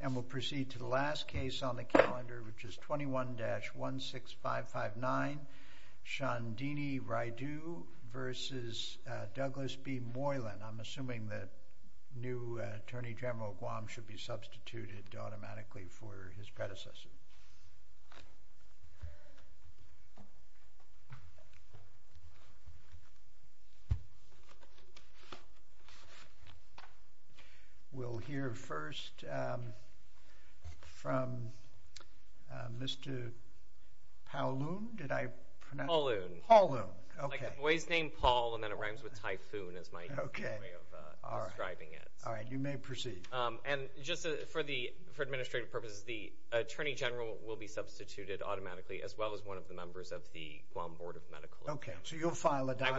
And we'll proceed to the last case on the calendar, which is 21-16559 Shandhini Raidoo v. Douglas B. Moylan. I'm assuming that new Attorney General Guam should be substituted automatically for his predecessor. We'll hear first from Mr. Pauloon. Did I pronounce that right? Pauloon. Pauloon. Okay. It's like a boy's name, Paul, and then it rhymes with typhoon is my way of describing it. All right. You may proceed. And just for administrative purposes, the Attorney General will be substituted automatically as well as one of the members of the Guam Board of Medical Examiner. Okay. So you'll file a document?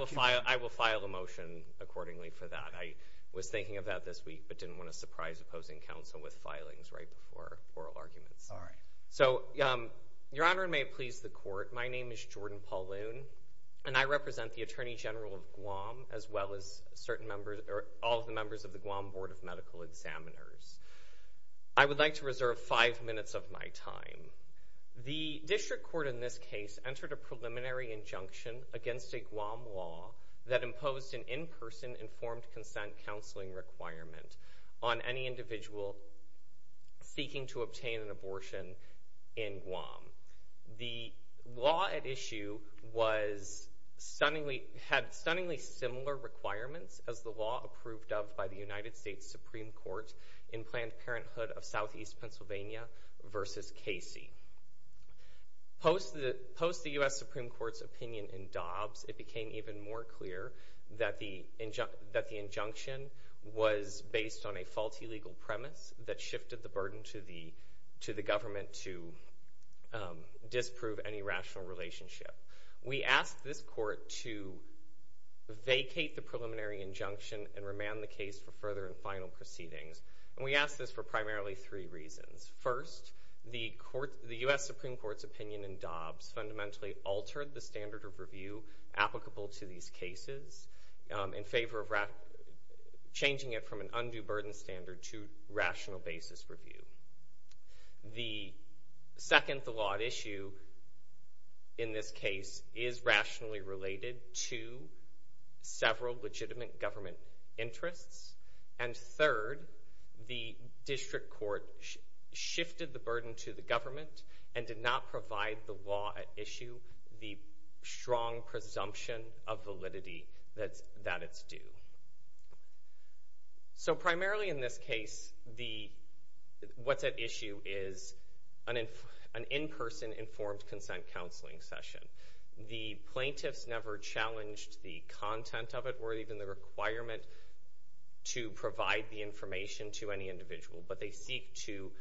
I will file a motion accordingly for that. I was thinking of that this week, but didn't want to surprise opposing counsel with filings right before oral arguments. All right. So, Your Honor, and may it please the Court, my name is Jordan Pauloon, and I represent the Attorney General of Guam as well as all of the members of the Guam Board of Medical Examiners. I would like to reserve five minutes of my time. The district court in this case entered a preliminary injunction against a Guam law that imposed an in-person informed consent counseling requirement on any individual seeking to obtain an abortion in Guam. The law at issue had stunningly similar requirements as the law approved of by the United States Supreme Court in Planned Parenthood of Southeast Pennsylvania versus Casey. Post the U.S. Supreme Court's opinion in Dobbs, it became even more clear that the injunction was based on a faulty legal premise that shifted the burden to the government to disprove any rational relationship. We asked this court to vacate the preliminary injunction and remand the case for further and final proceedings, and we asked this for primarily three reasons. First, the U.S. Supreme Court's opinion in Dobbs fundamentally altered the standard of review applicable to these cases in favor of changing it from an undue burden standard to rational basis review. The second, the law at issue in this case is rationally related to several legitimate government interests, and third, the district court shifted the burden to the government and did not provide the law at issue the strong presumption of validity that it's due. Primarily in this case, what's at issue is an in-person informed consent counseling session. The plaintiffs never challenged the content of it or even the requirement to provide the information to any individual, but they seek to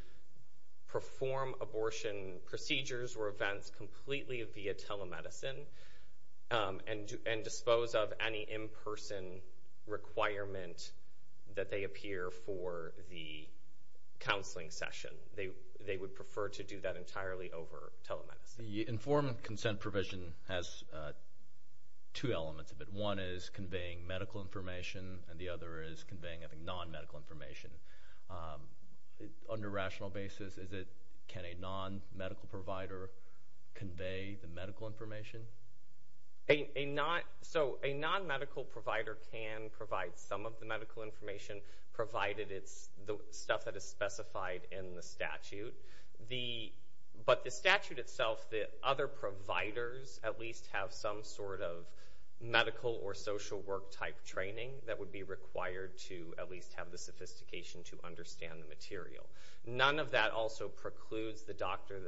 perform abortion procedures or events completely via telemedicine and dispose of any in-person requirement that they appear for the counseling session. They would prefer to do that entirely over telemedicine. The informed consent provision has two elements of it. One is conveying medical information, and the other is conveying, I think, non-medical information. On a rational basis, can a non-medical provider convey the medical information? A non-medical provider can provide some of the medical information provided it's the stuff that is specified in the statute, but the statute itself, the other providers at least have some sort of medical or social work type training that would be required to at least have the sophistication to understand the material. None of that also precludes the doctor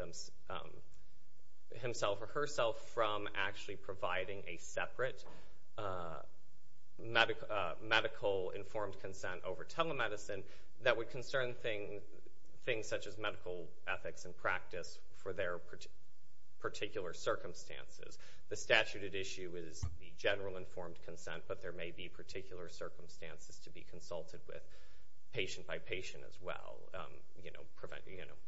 himself or herself from actually providing a separate medical informed consent over telemedicine that would concern things such as medical ethics and practice for their particular circumstances. The statute at issue is the general informed consent, but there may be particular circumstances to be consulted with patient by patient as well,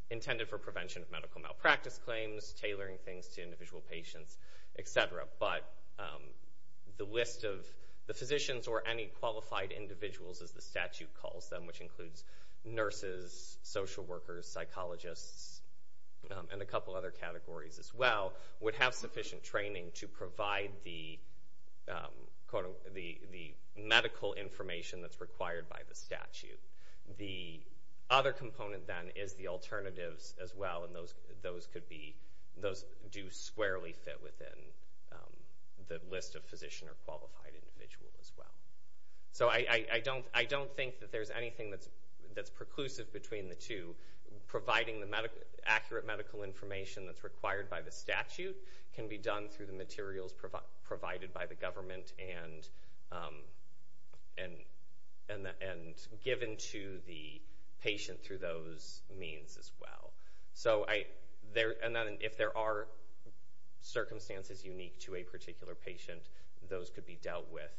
intended for prevention of medical malpractice claims, tailoring things to individual patients, etc. But the list of the physicians or any qualified individuals, as the statute calls them, which includes nurses, social workers, psychologists, and a couple other categories as well, would have sufficient training to provide the medical information that's required by the statute. The other component then is the alternatives as well, and those do squarely fit within the list of physician or qualified individual as well. So I don't think that there's anything that's preclusive between the two, providing the materials provided by the government and given to the patient through those means as well. If there are circumstances unique to a particular patient, those could be dealt with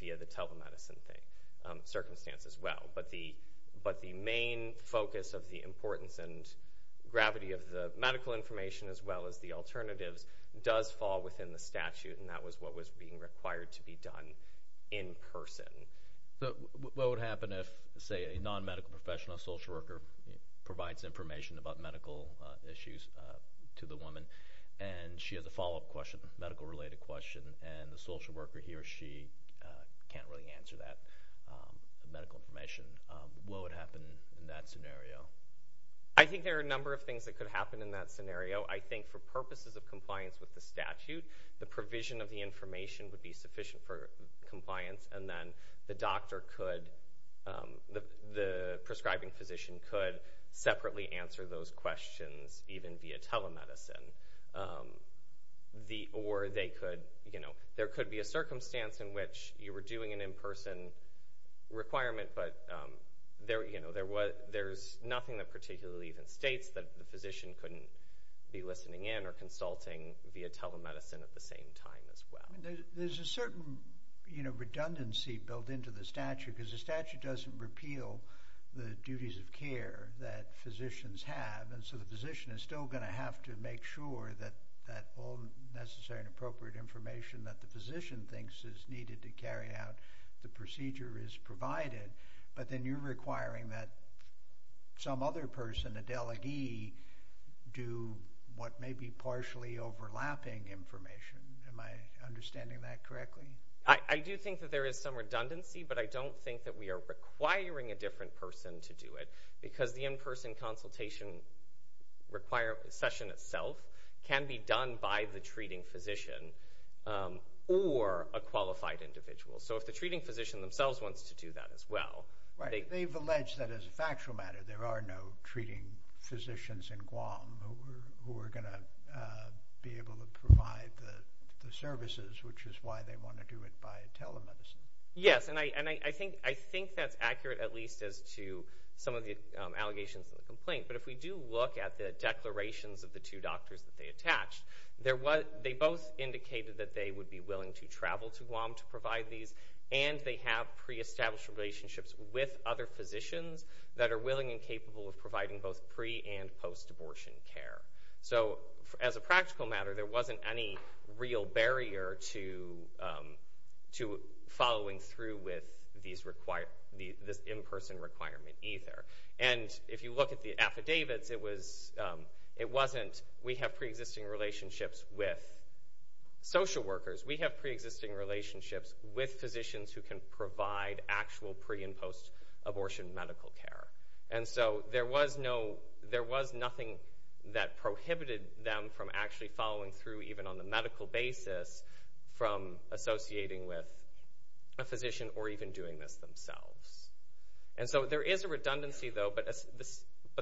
via the telemedicine circumstance as well. But the main focus of the importance and gravity of the medical information as well as the alternatives does fall within the statute, and that was what was being required to be done in person. So what would happen if, say, a non-medical professional, a social worker, provides information about medical issues to the woman, and she has a follow-up question, a medical-related question, and the social worker, he or she can't really answer that medical information. What would happen in that scenario? I think there are a number of things that could happen in that scenario. I think for purposes of compliance with the statute, the provision of the information would be sufficient for compliance, and then the prescribing physician could separately answer those questions even via telemedicine. Or there could be a circumstance in which you were doing an in-person requirement, but there's nothing that particularly even states that the physician couldn't be listening in or consulting via telemedicine at the same time as well. There's a certain redundancy built into the statute, because the statute doesn't repeal the duties of care that physicians have, and so the physician is still going to have to make sure that all necessary and appropriate information that the physician thinks is needed to carry out the procedure is provided. But then you're requiring that some other person, a delegee, do what may be partially overlapping information. Am I understanding that correctly? I do think that there is some redundancy, but I don't think that we are requiring a different person to do it, because the in-person consultation session itself can be done by the treating physician or a qualified individual. So if the treating physician themselves wants to do that as well... Right. They've alleged that as a factual matter there are no treating physicians in Guam who are going to be able to provide the services, which is why they want to do it by telemedicine. Yes, and I think that's accurate at least as to some of the allegations in the complaint. But if we do look at the declarations of the two doctors that they attached, they both indicated that they would be willing to travel to Guam to provide these, and they have pre-established relationships with other physicians that are willing and capable of providing both pre- and post-abortion care. So as a practical matter, there wasn't any real barrier to following through with this in-person requirement either. And if you look at the affidavits, it wasn't, we have pre-existing relationships with social workers, we have pre-existing relationships with physicians who can provide actual pre- and post-abortion medical care. And so there was nothing that prohibited them from actually following through even on the medical basis from associating with a physician or even doing this themselves. And so there is a redundancy though, but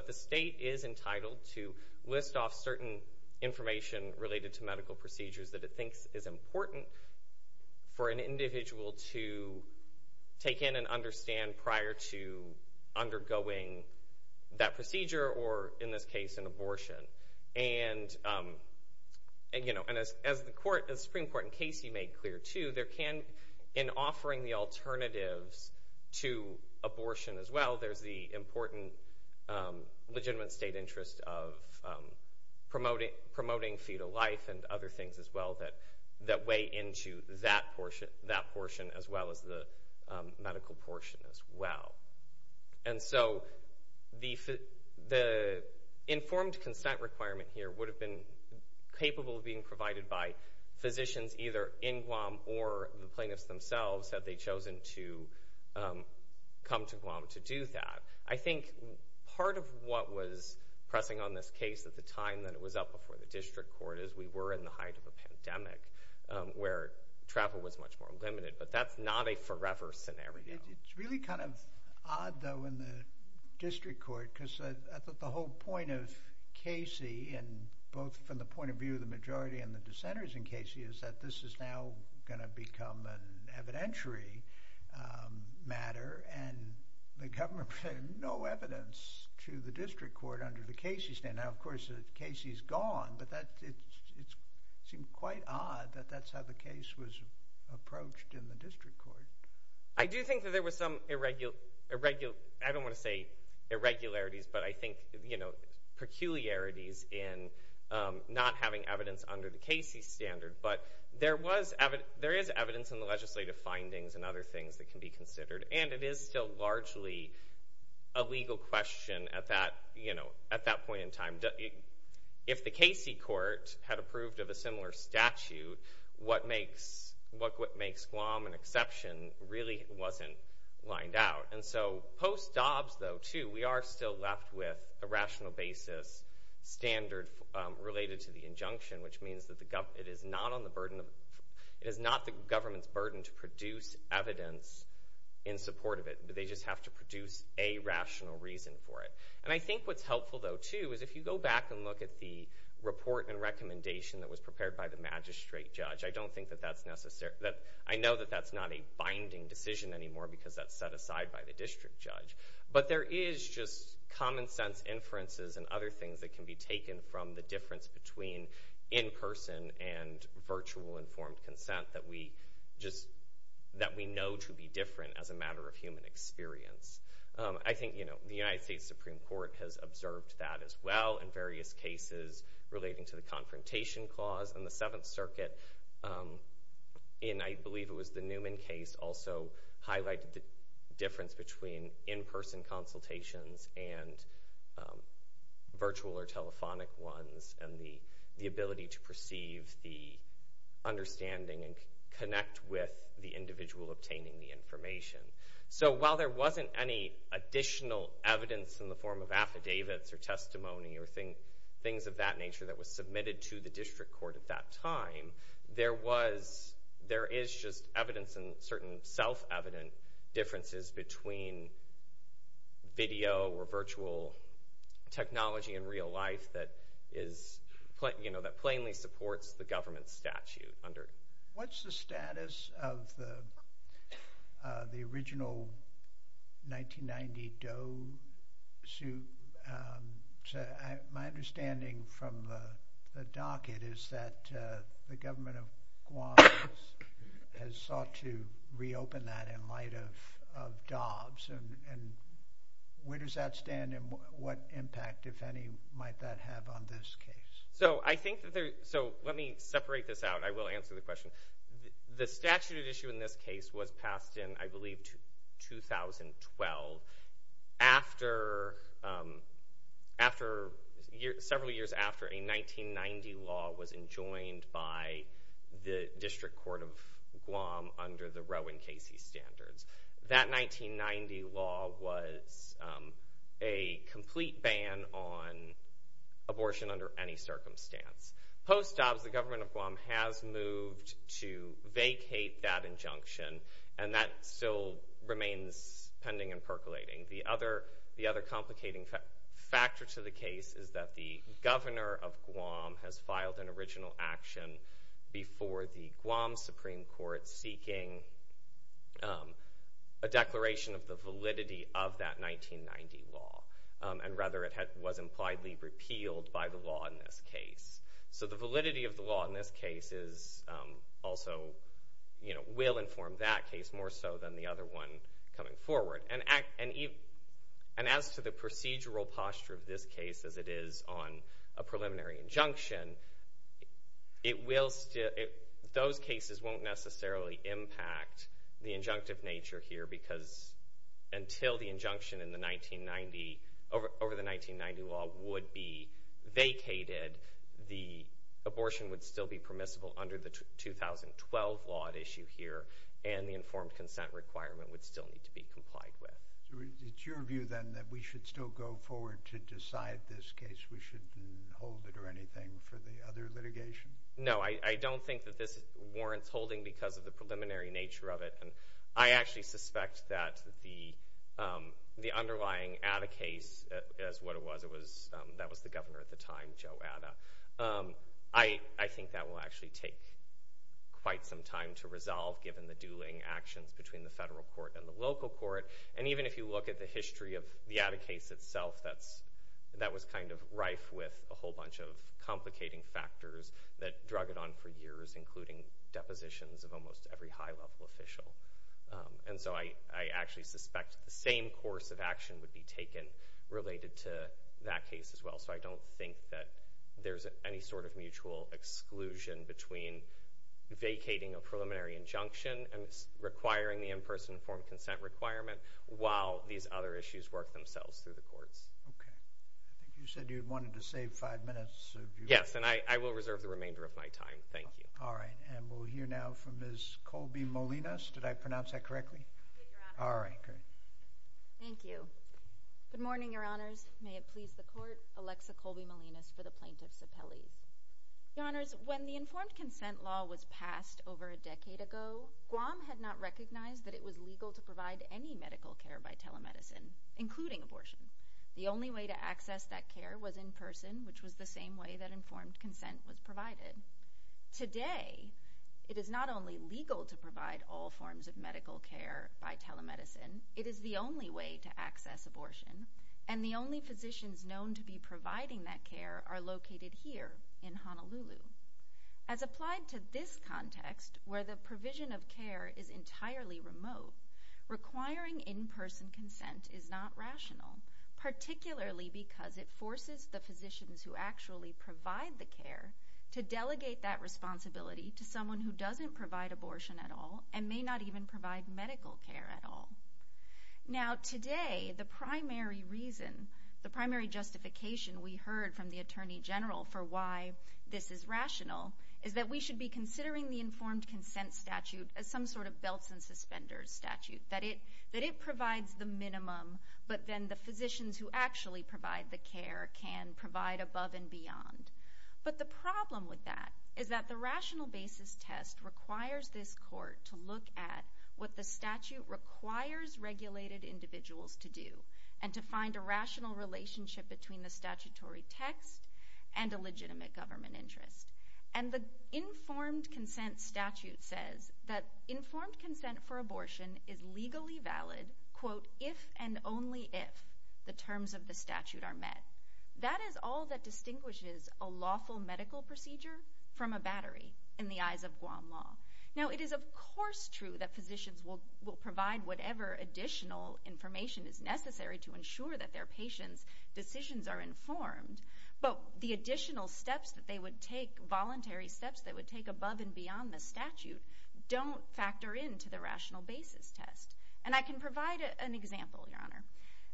the state is entitled to list off certain information related to medical procedures that it thinks is important for an individual to take in and understand prior to undergoing that procedure or, in this case, an abortion. And as the Supreme Court in Casey made clear too, in offering the alternatives to abortion as well, there's the important legitimate state interest of promoting fetal life and other things as well that weigh into that portion as well as the medical portion as well. And so the informed consent requirement here would have been capable of being provided by physicians either in Guam or the plaintiffs themselves had they chosen to come to Guam to do that. I think part of what was pressing on this case at the time that it was up before the district court is we were in the height of a pandemic where travel was much more limited, but that's not a forever scenario. It's really kind of odd though in the district court because I thought the whole point of Casey and both from the point of view of the majority and the dissenters in Casey is that this is now going to become an evidentiary matter and the government had no evidence to the district court under the Casey standard. Now, of course, Casey is gone, but it seemed quite odd that that's how the case was approached in the district court. I do think that there was some irregularities, but I think peculiarities in not having evidence under the Casey standard, but there is evidence in the legislative findings and other things that can be considered and it is still largely a legal question at that point in time. If the Casey court had approved of a similar statute, what makes Guam an exception really wasn't lined out. And so post-Dobbs though, too, we are still left with a rational basis standard related to the injunction, which means that it is not the government's burden to produce evidence in support of it. They just have to produce a rational reason for it. And I think what's helpful though, too, is if you go back and look at the report and recommendation that was prepared by the magistrate judge, I know that that's not a binding decision anymore because that's set aside by the district judge. But there is just common sense inferences and other things that can be taken from the difference between in-person and virtual informed consent that we know to be different as a matter of human experience. I think the United States Supreme Court has observed that as well in various cases relating to the confrontation clause. And the Seventh Circuit, in I believe it was the Newman case, also highlighted the difference between in-person consultations and virtual or telephonic ones and the ability to perceive the understanding and connect with the individual obtaining the information. So while there wasn't any additional evidence in the form of affidavits or testimony or things of that nature that was submitted to the district court at that time, there is just evidence and certain self-evident differences between video or virtual technology in real life that plainly supports the government statute. What's the status of the original 1990 Doe suit? My understanding from the docket is that the government of Guam has sought to reopen that in light of Dobbs. And where does that stand and what impact, if any, might that have on this case? Let me separate this out. I will answer the question. The statute at issue in this case was passed in, I believe, 2012, several years after a 1990 law was enjoined by the District Court of Guam under the Roe and Casey Standards. That 1990 law was a complete ban on abortion under any circumstance. Post Dobbs, the government of Guam has moved to vacate that injunction, and that still remains pending and percolating. The other complicating factor to the case is that the governor of Guam has filed an a declaration of the validity of that 1990 law, and rather it was impliedly repealed by the law in this case. So the validity of the law in this case also will inform that case more so than the other one coming forward. And as to the procedural posture of this case as it is on a preliminary injunction, those cases won't necessarily impact the injunctive nature here, because until the injunction over the 1990 law would be vacated, the abortion would still be permissible under the 2012 law at issue here, and the informed consent requirement would still need to be complied with. So it's your view, then, that we should still go forward to decide this case? We shouldn't hold it or anything for the other litigation? No, I don't think that this warrants holding because of the preliminary nature of it, and I actually suspect that the underlying Atta case is what it was. That was the governor at the time, Joe Atta. I think that will actually take quite some time to resolve, given the dueling actions between the federal court and the local court. And even if you look at the history of the Atta case itself, that was kind of rife with a whole bunch of complicating factors that drug it on for years, including depositions of almost every high-level official. And so I actually suspect the same course of action would be taken related to that case as well. So I don't think that there's any sort of mutual exclusion between vacating a preliminary injunction and requiring the in-person informed consent requirement, while these other issues work themselves through the courts. Okay. I think you said you wanted to save five minutes. Yes, and I will reserve the remainder of my time. Thank you. All right. And we'll hear now from Ms. Colby Molinas. Did I pronounce that correctly? Yes, Your Honor. All right. Great. Thank you. Good morning, Your Honors. May it please the Court. Alexa Colby Molinas for the Plaintiff's Appellees. Your Honors, when the informed consent law was passed over a decade ago, Guam had not recognized that it was legal to provide any medical care by telemedicine, including abortion. The only way to access that care was in person, which was the same way that informed consent was provided. Today, it is not only legal to provide all forms of medical care by telemedicine, it is the only way to access abortion, and the only physicians known to be providing that care are located here in Honolulu. As applied to this context, where the provision of care is entirely remote, requiring in-person consent is not rational, particularly because it forces the physicians who actually provide the care to delegate that responsibility to someone who doesn't provide abortion at all and may not even provide medical care at all. Now, today, the primary reason, the primary justification we heard from the Attorney General for why this is rational is that we should be considering the informed consent statute as some sort of belts and suspenders statute, that it provides the minimum, but then the physicians who actually provide the care can provide above and beyond. But the problem with that is that the rational basis test requires this court to look at what the statute requires regulated individuals to do and to find a rational relationship between the statutory text and a legitimate government interest. And the informed consent statute says that informed consent for abortion is legally valid quote, if and only if the terms of the statute are met. That is all that distinguishes a lawful medical procedure from a battery in the eyes of Guam law. Now, it is of course true that physicians will provide whatever additional information is necessary to ensure that their patients' decisions are informed, but the additional steps that they would take, voluntary steps that would take above and beyond the statute don't factor into the rational basis test. And I can provide an example, Your Honor.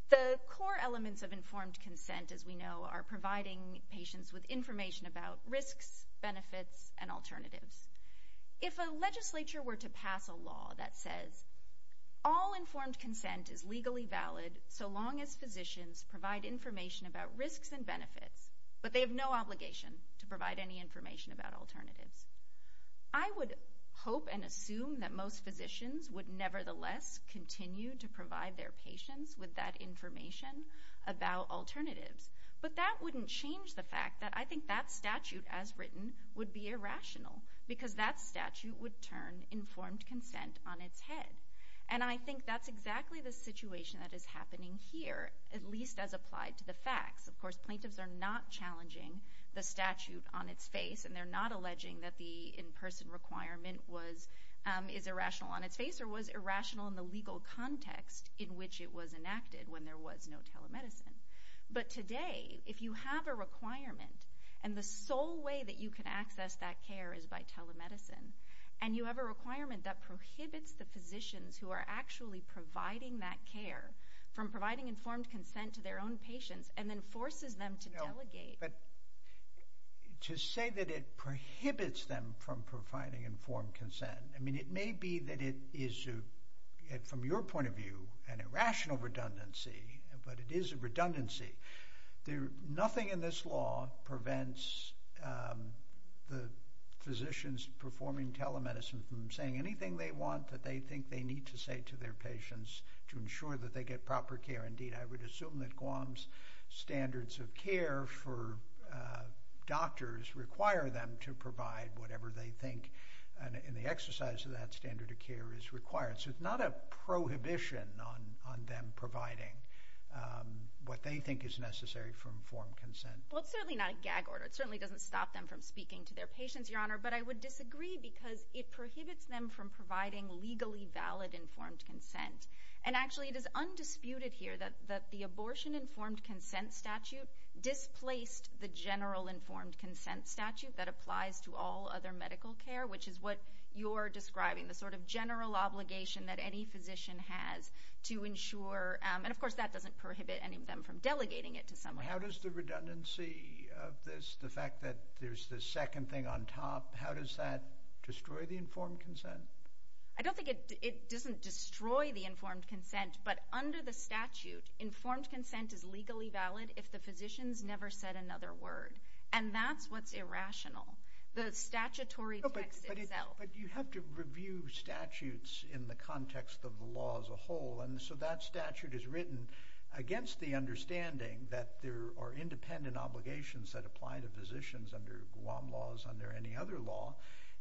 The core elements of informed consent, as we know, are providing patients with information about risks, benefits, and alternatives. If a legislature were to pass a law that says all informed consent is legally valid so long as physicians provide information about risks and benefits, but they have no obligation to provide any information about alternatives, I would hope and assume that most physicians would nevertheless continue to provide their patients with that information about alternatives. But that wouldn't change the fact that I think that statute as written would be irrational because that statute would turn informed consent on its head. And I think that's exactly the situation that is happening here, at least as applied to the facts. Of course, plaintiffs are not challenging the statute on its face, and they're not alleging that the in-person requirement is irrational on its face or was irrational in the legal context in which it was enacted when there was no telemedicine. But today, if you have a requirement, and the sole way that you can access that care is by telemedicine, and you have a requirement that prohibits the physicians who are actually providing that care from providing informed consent to their own patients and then forces them to delegate. But to say that it prohibits them from providing informed consent, I mean, it may be that it is, from your point of view, an irrational redundancy, but it is a redundancy. Nothing in this law prevents the physicians performing telemedicine from saying anything they want that they think they need to say to their patients to ensure that they get proper care. Indeed, I would assume that Guam's standards of care for doctors require them to provide whatever they think, and the exercise of that standard of care is required. So it's not a prohibition on them providing what they think is necessary for informed consent. Well, it's certainly not a gag order. It certainly doesn't stop them from speaking to their patients, Your Honor, but I would disagree because it prohibits them from providing legally valid informed consent. And actually it is undisputed here that the abortion informed consent statute displaced the general informed consent statute that applies to all other medical care, which is what you're describing, the sort of general obligation that any physician has to ensure, and of course that doesn't prohibit any of them from delegating it to someone else. How does the redundancy of this, the fact that there's this second thing on top, how does that destroy the informed consent? I don't think it doesn't destroy the informed consent, but under the statute informed consent is legally valid if the physicians never said another word, and that's what's irrational. The statutory text itself. But you have to review statutes in the context of the law as a whole, and so that statute is written against the understanding that there are independent obligations that apply to physicians under Guam laws, under any other law,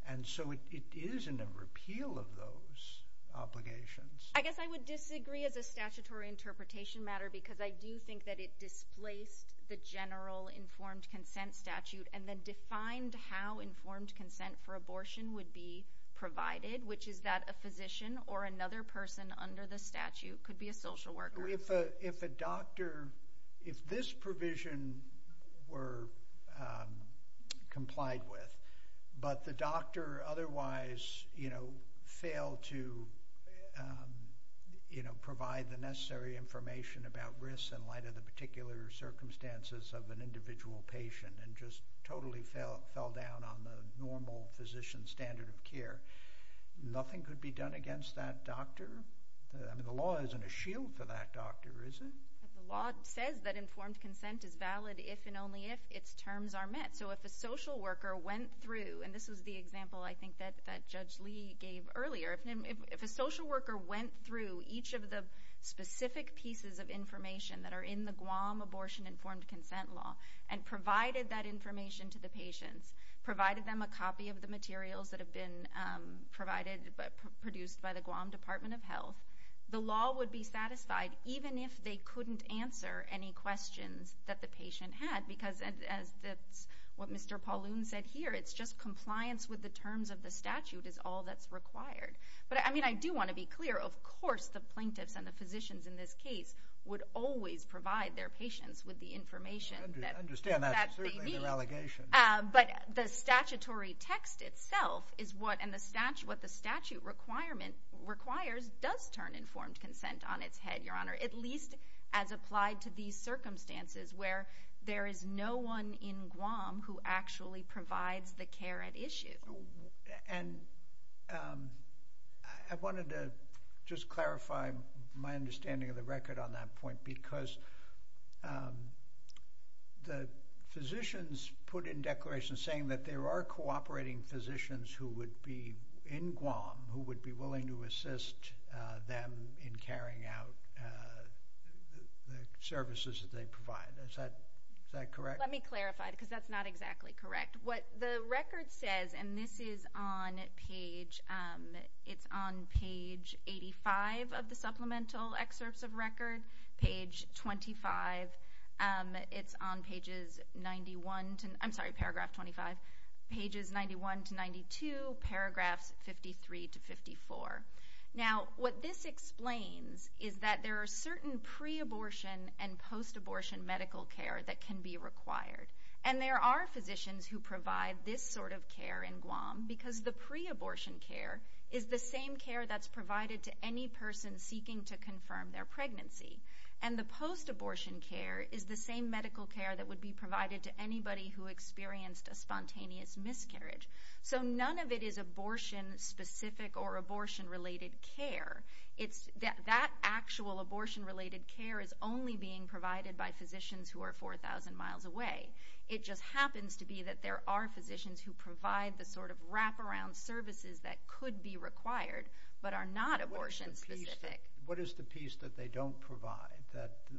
and so it is in a repeal of those obligations. I guess I would disagree as a statutory interpretation matter because I do think that it displaced the general informed consent statute and then defined how informed consent for abortion would be provided, which is that a physician or another person under the statute could be a social worker. If a doctor, if this provision were complied with, but the doctor otherwise failed to provide the necessary information about risks in light of the particular circumstances of an individual patient and just totally fell down on the normal physician standard of care, nothing could be done against that doctor? The law isn't a shield for that doctor, is it? The law says that informed consent is valid if and only if its terms are met. So if a social worker went through, and this is the example I think that Judge Lee gave earlier, if a social worker went through each of the specific pieces of information that are in the Guam abortion informed consent law and provided that information to the patients, provided them a copy of the materials that have been produced by the Guam Department of Health, the law would be satisfied even if they couldn't answer any questions that the patient had because that's what Mr. Pauloon said here, it's just compliance with the terms of the statute is all that's required. But I do want to be clear, of course the plaintiffs and the physicians in this case would always provide their patients with the information that they need. I understand that's certainly their allegation. But the statutory text itself is what the statute requirement requires does turn informed consent on its head, Your Honor, at least as applied to these circumstances where there is no one in Guam who actually provides the care at issue. And I wanted to just clarify my understanding of the record on that point because the physicians put in declarations saying that there are cooperating physicians who would be in Guam who would be willing to assist them in carrying out the services that they provide. Is that correct? Let me clarify because that's not exactly correct. What the record says, and this is on page 85 of the supplemental excerpts of record, page 25, it's on pages 91 to 92, paragraphs 53 to 54. Now what this explains is that there are certain pre-abortion and post-abortion medical care that can be required. And there are physicians who provide this sort of care in Guam because the pre-abortion care is the same care that's provided to any person seeking to confirm their pregnancy. And the post-abortion care is the same medical care that would be provided to anybody who experienced a spontaneous miscarriage. So none of it is abortion-specific or abortion-related care. That actual abortion-related care is only being provided by physicians who are 4,000 miles away. It just happens to be that there are physicians who provide the sort of wraparound services that could be required but are not abortion-specific. What is the piece that they don't provide?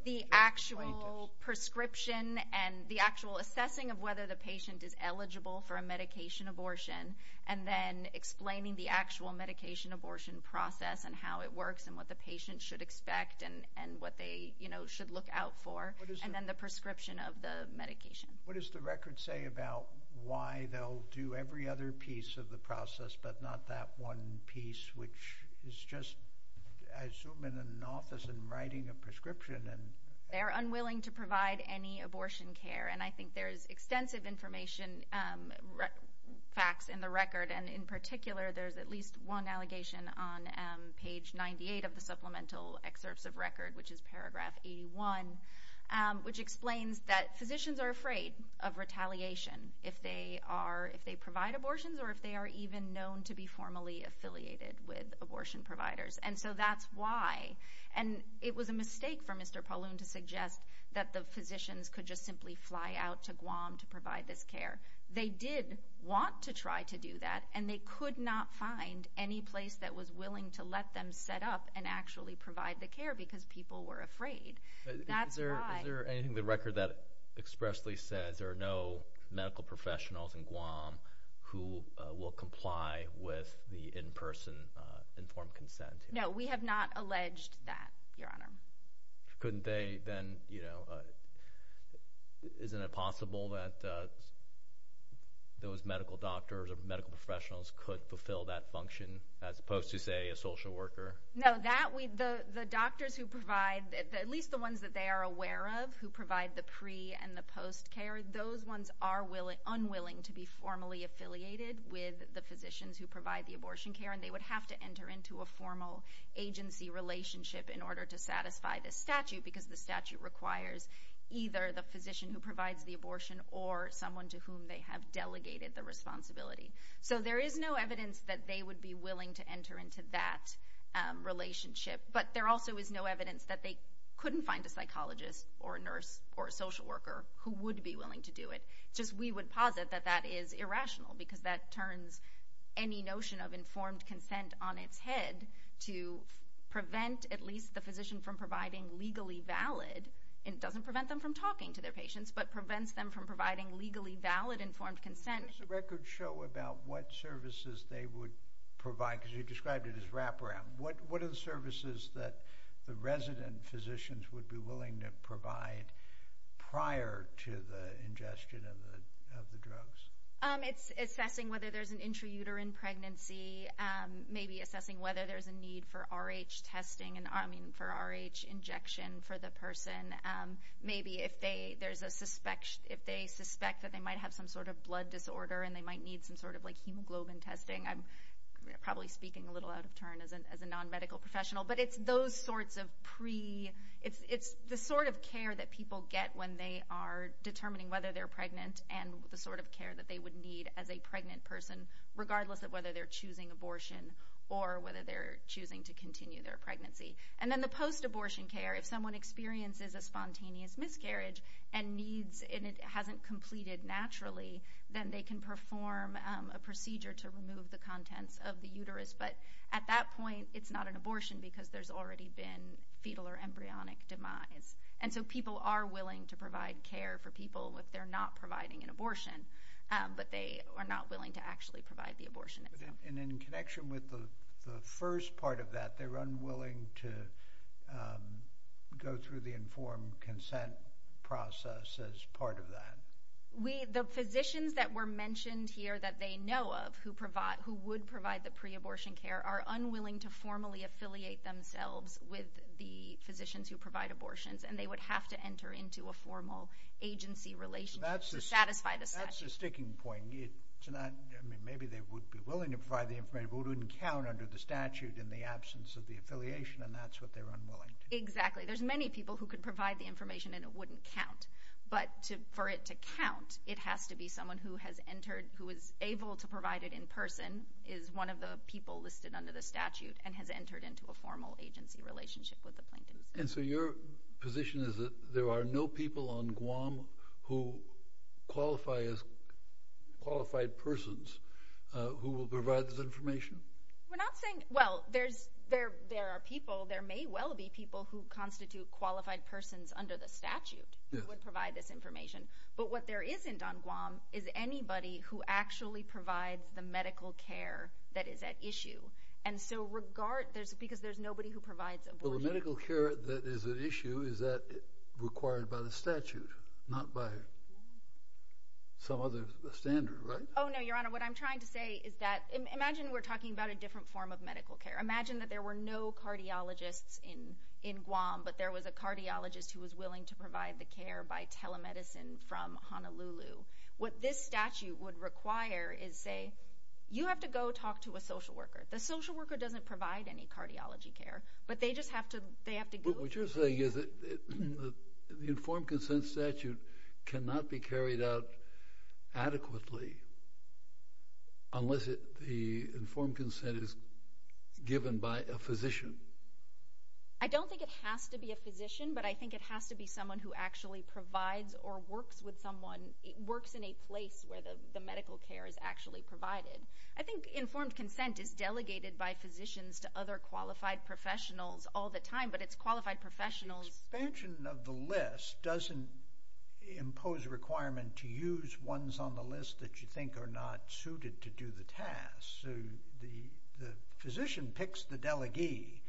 The actual prescription and the actual assessing of whether the patient is eligible for a medication abortion, and then explaining the actual medication abortion process and how it works and what the patient should expect and what they should look out for. And then the prescription of the medication. What does the record say about why they'll do every other piece of the process but not that one piece, which is just, I assume, in an office and writing a prescription? They're unwilling to provide any abortion care, and I think there's extensive information facts in the record, and in particular there's at least one allegation on page 98 of the Supplemental Excerpts of Record, which is paragraph 81, which explains that physicians are afraid of retaliation if they provide abortions or if they are even known to be formally affiliated with abortion providers, and so that's why. And it was a mistake for Mr. Paulun to suggest that the physicians could just simply fly out to Guam to provide this care. They did want to try to do that, and they could not find any place that was willing to let them set up and actually provide the care because people were afraid. That's why. Is there anything in the record that expressly says there are no medical professionals in Guam who will comply with the in-person informed consent? No, we have not alleged that, Your Honor. Couldn't they then, you know, isn't it possible that those medical doctors or medical professionals could fulfill that function as opposed to, say, a social worker? No, the doctors who provide, at least the ones that they are aware of who provide the pre- and the post-care, those ones are unwilling to be formally affiliated with the physicians who provide the abortion care, and they would have to enter into a formal agency relationship in order to satisfy this statute because the statute requires either the physician who provides the abortion or someone to whom they have delegated the responsibility. So there is no evidence that they would be willing to enter into that relationship, but there also is no evidence that they couldn't find a psychologist or a nurse or a social worker who would be willing to do it. Just we would posit that that is irrational because that turns any notion of informed consent on its head to prevent at least the physician from providing legally valid, and it doesn't prevent them from talking to their patients, but prevents them from providing legally valid informed consent. What does the record show about what services they would provide? Because you described it as wraparound. What are the services that the resident physicians would be willing to provide prior to the ingestion of the drugs? It's assessing whether there's an intrauterine pregnancy, maybe assessing whether there's a need for RH testing, I mean, for RH injection for the person. Maybe if they suspect that they might have some sort of blood disorder and they might need some sort of hemoglobin testing. I'm probably speaking a little out of turn as a non-medical professional, but it's the sort of care that people get when they are determining whether they're pregnant and the sort of care that they would need as a pregnant person, regardless of whether they're choosing abortion or whether they're choosing to continue their pregnancy. And then the post-abortion care, if someone experiences a spontaneous miscarriage and it hasn't completed naturally, then they can perform a procedure to remove the contents of the uterus. But at that point, it's not an abortion because there's already been fetal or embryonic demise. And so people are willing to provide care for people if they're not providing an abortion, but they are not willing to actually provide the abortion itself. And in connection with the first part of that, they're unwilling to go through the informed consent process as part of that. The physicians that were mentioned here that they know of who would provide the pre-abortion care are unwilling to formally affiliate themselves with the physicians who provide abortions, and they would have to enter into a formal agency relationship to satisfy the statute. That's a sticking point. Maybe they would be willing to provide the information, but it wouldn't count under the statute in the absence of the affiliation, and that's what they're unwilling to do. Exactly. There's many people who could provide the information, and it wouldn't count. But for it to count, it has to be someone who is able to provide it in person, is one of the people listed under the statute, and has entered into a formal agency relationship with the plaintiffs. And so your position is that there are no people on Guam who qualify as qualified persons who will provide this information? We're not saying. Well, there are people. There may well be people who constitute qualified persons under the statute who would provide this information. But what there isn't on Guam is anybody who actually provides the medical care that is at issue, because there's nobody who provides abortion. Well, the medical care that is at issue is that required by the statute, not by some other standard, right? Oh, no, Your Honor, what I'm trying to say is that imagine we're talking about a different form of medical care. Imagine that there were no cardiologists in Guam, but there was a cardiologist who was willing to provide the care by telemedicine from Honolulu. What this statute would require is, say, you have to go talk to a social worker. The social worker doesn't provide any cardiology care, but they just have to go. What you're saying is that the informed consent statute cannot be carried out adequately unless the informed consent is given by a physician. I don't think it has to be a physician, but I think it has to be someone who actually provides or works with someone, works in a place where the medical care is actually provided. I think informed consent is delegated by physicians to other qualified professionals all the time, but it's qualified professionals. Expansion of the list doesn't impose a requirement to use ones on the list that you think are not suited to do the task. The physician picks the delegee,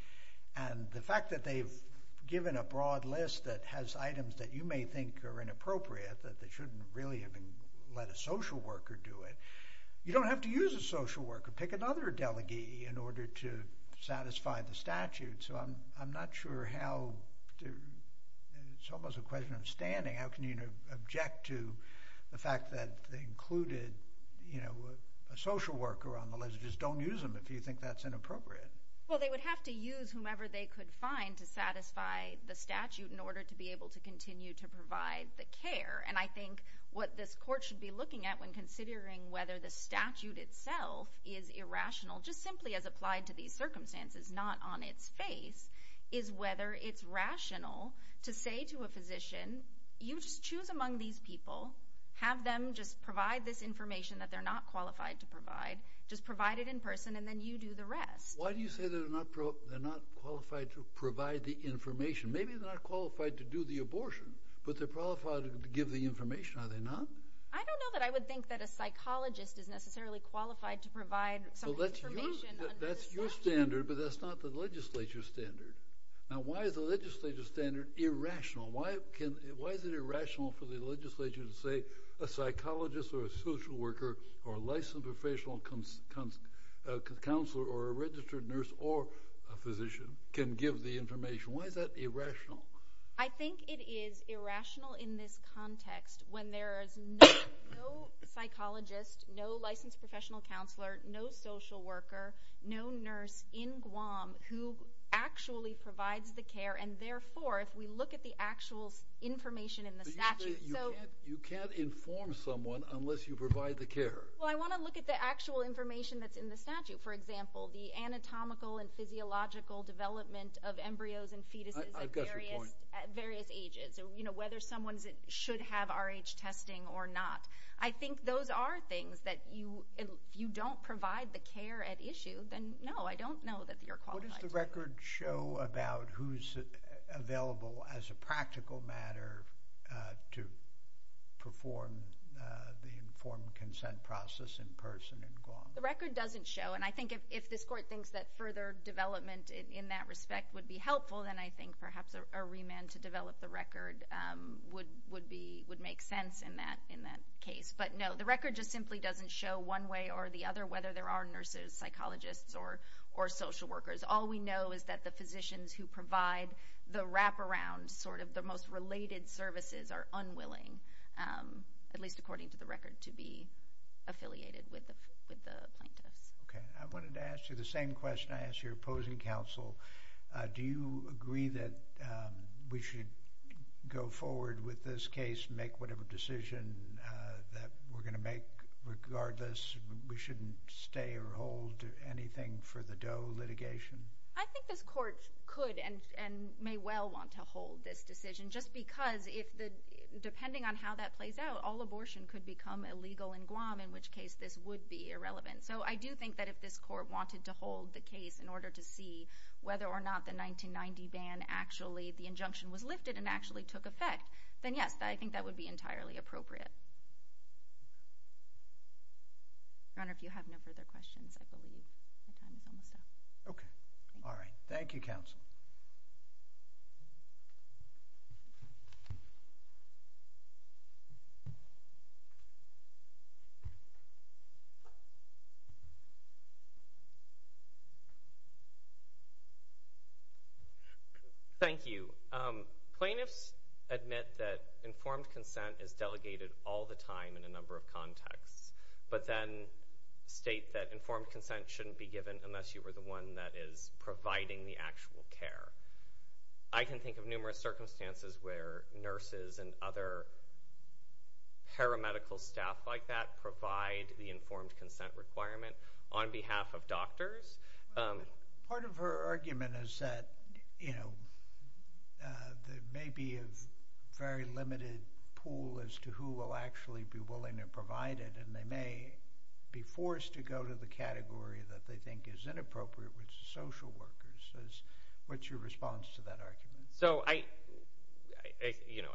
and the fact that they've given a broad list that has items that you may think are inappropriate, that they shouldn't really even let a social worker do it, you don't have to use a social worker. Pick another delegee in order to satisfy the statute. So I'm not sure how to... It's almost a question of standing. How can you object to the fact that they included a social worker on the list? Just don't use them if you think that's inappropriate. Well, they would have to use whomever they could find to satisfy the statute in order to be able to continue to provide the care. And I think what this court should be looking at when considering whether the statute itself is irrational, just simply as applied to these circumstances, not on its face, is whether it's rational to say to a physician, you just choose among these people, have them just provide this information that they're not qualified to provide, just provide it in person, and then you do the rest. Why do you say they're not qualified to provide the information? Maybe they're not qualified to do the abortion, but they're qualified to give the information, are they not? I don't know that I would think that a psychologist is necessarily qualified to provide some information under the statute. So that's your standard, but that's not the legislature's standard. Now why is the legislature's standard irrational? Why is it irrational for the legislature to say a psychologist or a social worker or a licensed professional counselor or a registered nurse or a physician can give the information? Why is that irrational? I think it is irrational in this context when there is no psychologist, no licensed professional counselor, no social worker, no nurse in Guam who actually provides the care, and therefore if we look at the actual information in the statute. You can't inform someone unless you provide the care. Well, I want to look at the actual information that's in the statute. For example, the anatomical and physiological development of embryos and fetuses at various ages, whether someone should have Rh testing or not. I think those are things that if you don't provide the care at issue, then no, I don't know that you're qualified. What does the record show about who's available as a practical matter to perform the informed consent process in person in Guam? The record doesn't show, and I think if this court thinks that further development in that respect would be helpful, then I think perhaps a remand to develop the record would make sense in that case. But no, the record just simply doesn't show one way or the other, whether there are nurses, psychologists, or social workers. All we know is that the physicians who provide the wraparound, sort of the most related services, are unwilling, at least according to the record, to be affiliated with the plaintiffs. I wanted to ask you the same question I asked your opposing counsel. Do you agree that we should go forward with this case, make whatever decision that we're going to make, regardless we shouldn't stay or hold anything for the Doe litigation? I think this court could and may well want to hold this decision, just because depending on how that plays out, all abortion could become illegal in Guam, in which case this would be irrelevant. In order to see whether or not the 1990 ban, actually the injunction was lifted and actually took effect, then yes, I think that would be entirely appropriate. Your Honor, if you have no further questions, I believe my time is almost up. Okay. All right. Thank you, counsel. Thank you. Plaintiffs admit that informed consent is delegated all the time in a number of contexts, but then state that informed consent shouldn't be given unless you are the one that is providing the actual care. I can think of numerous circumstances where nurses and other paramedical staff like that provide the informed consent requirement on behalf of doctors. Part of her argument is that there may be a very limited pool as to who will actually be willing to provide it, and they may be forced to go to the category that they think is inappropriate, which is social workers. What's your response to that argument?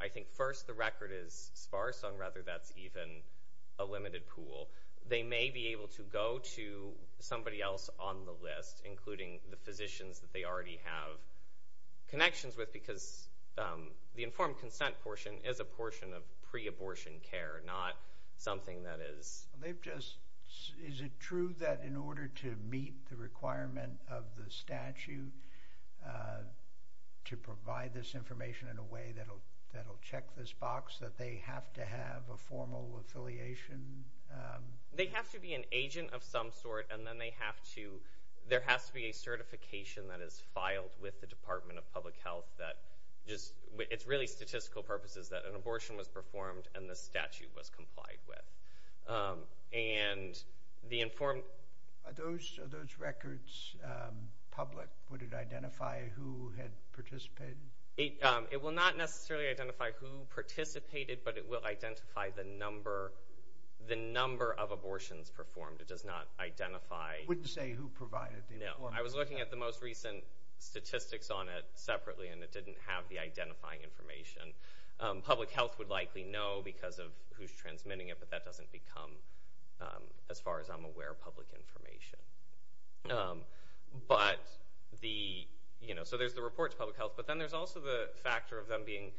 I think first the record is sparse, and rather that's even a limited pool. They may be able to go to somebody else on the list, including the physicians that they already have connections with because the informed consent portion is a portion of pre-abortion care, not something that is... Is it true that in order to meet the requirement of the statute to provide this information in a way that will check this box, that they have to have a formal affiliation? They have to be an agent of some sort, and then there has to be a certification that is filed with the Department of Public Health. It's really statistical purposes that an abortion was performed and the statute was complied with. Are those records public? Would it identify who had participated? It will not necessarily identify who participated, but it will identify the number of abortions performed. It does not identify... It wouldn't say who provided the information? No. I was looking at the most recent statistics on it separately, and it didn't have the identifying information. Public health would likely know because of who's transmitting it, but that doesn't become, as far as I'm aware, public information. So there's the report to public health, but then there's also the factor of them being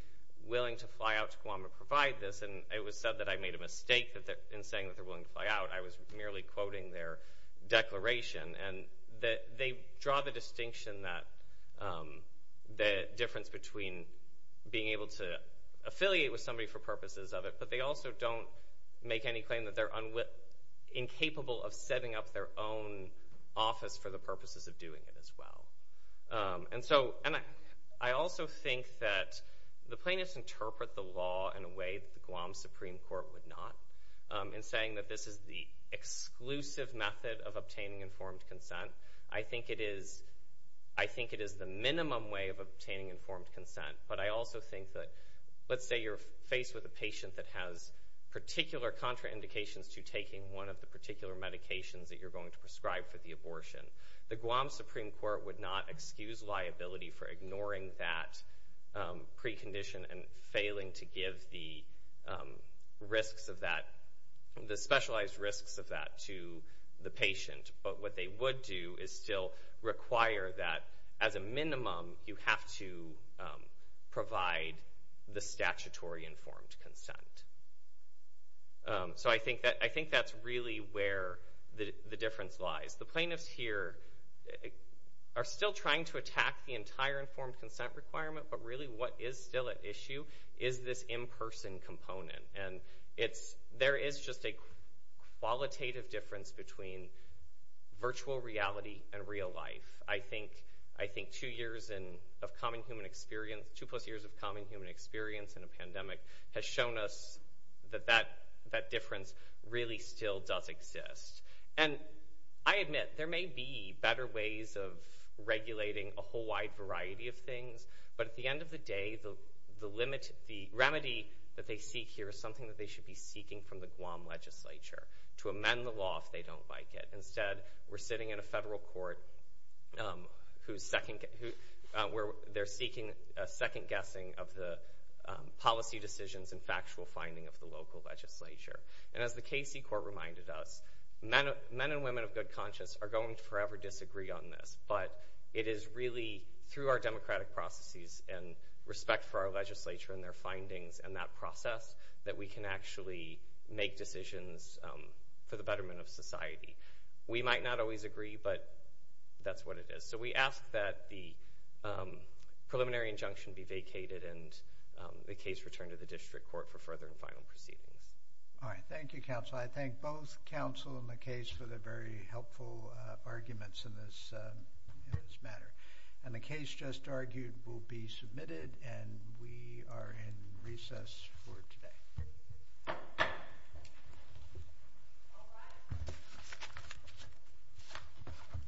willing to fly out to Guam and provide this, and it was said that I made a mistake in saying that they're willing to fly out. I was merely quoting their declaration. They draw the distinction that the difference between being able to affiliate with somebody for purposes of it, but they also don't make any claim that they're incapable of setting up their own office for the purposes of doing it as well. And so I also think that the plaintiffs interpret the law in a way that the Guam Supreme Court would not in saying that this is the exclusive method of obtaining informed consent. I think it is the minimum way of obtaining informed consent, but I also think that, let's say you're faced with a patient that has particular contraindications to taking one of the particular medications that you're going to prescribe for the abortion. The Guam Supreme Court would not excuse liability for ignoring that precondition and failing to give the specialized risks of that to the patient, but what they would do is still require that, as a minimum, you have to provide the statutory informed consent. So I think that's really where the difference lies. The plaintiffs here are still trying to attack the entire informed consent requirement, but really what is still at issue is this in-person component, and there is just a qualitative difference between virtual reality and real life. I think two plus years of common human experience in a pandemic has shown us that that difference really still does exist. And I admit, there may be better ways of regulating a whole wide variety of things, but at the end of the day, the remedy that they seek here is something that they should be seeking from the Guam legislature to amend the law if they don't like it. Instead, we're sitting in a federal court where they're seeking a second guessing of the policy decisions and factual finding of the local legislature. And as the Casey court reminded us, men and women of good conscience are going to forever disagree on this, but it is really through our democratic processes and respect for our legislature and their findings and that process that we can actually make decisions for the betterment of society. We might not always agree, but that's what it is. So we ask that the preliminary injunction be vacated and the case returned to the district court for further and final proceedings. All right. Thank you, counsel. I thank both counsel and the case for the very helpful arguments in this matter. And the case just argued will be submitted, and we are in recess for today.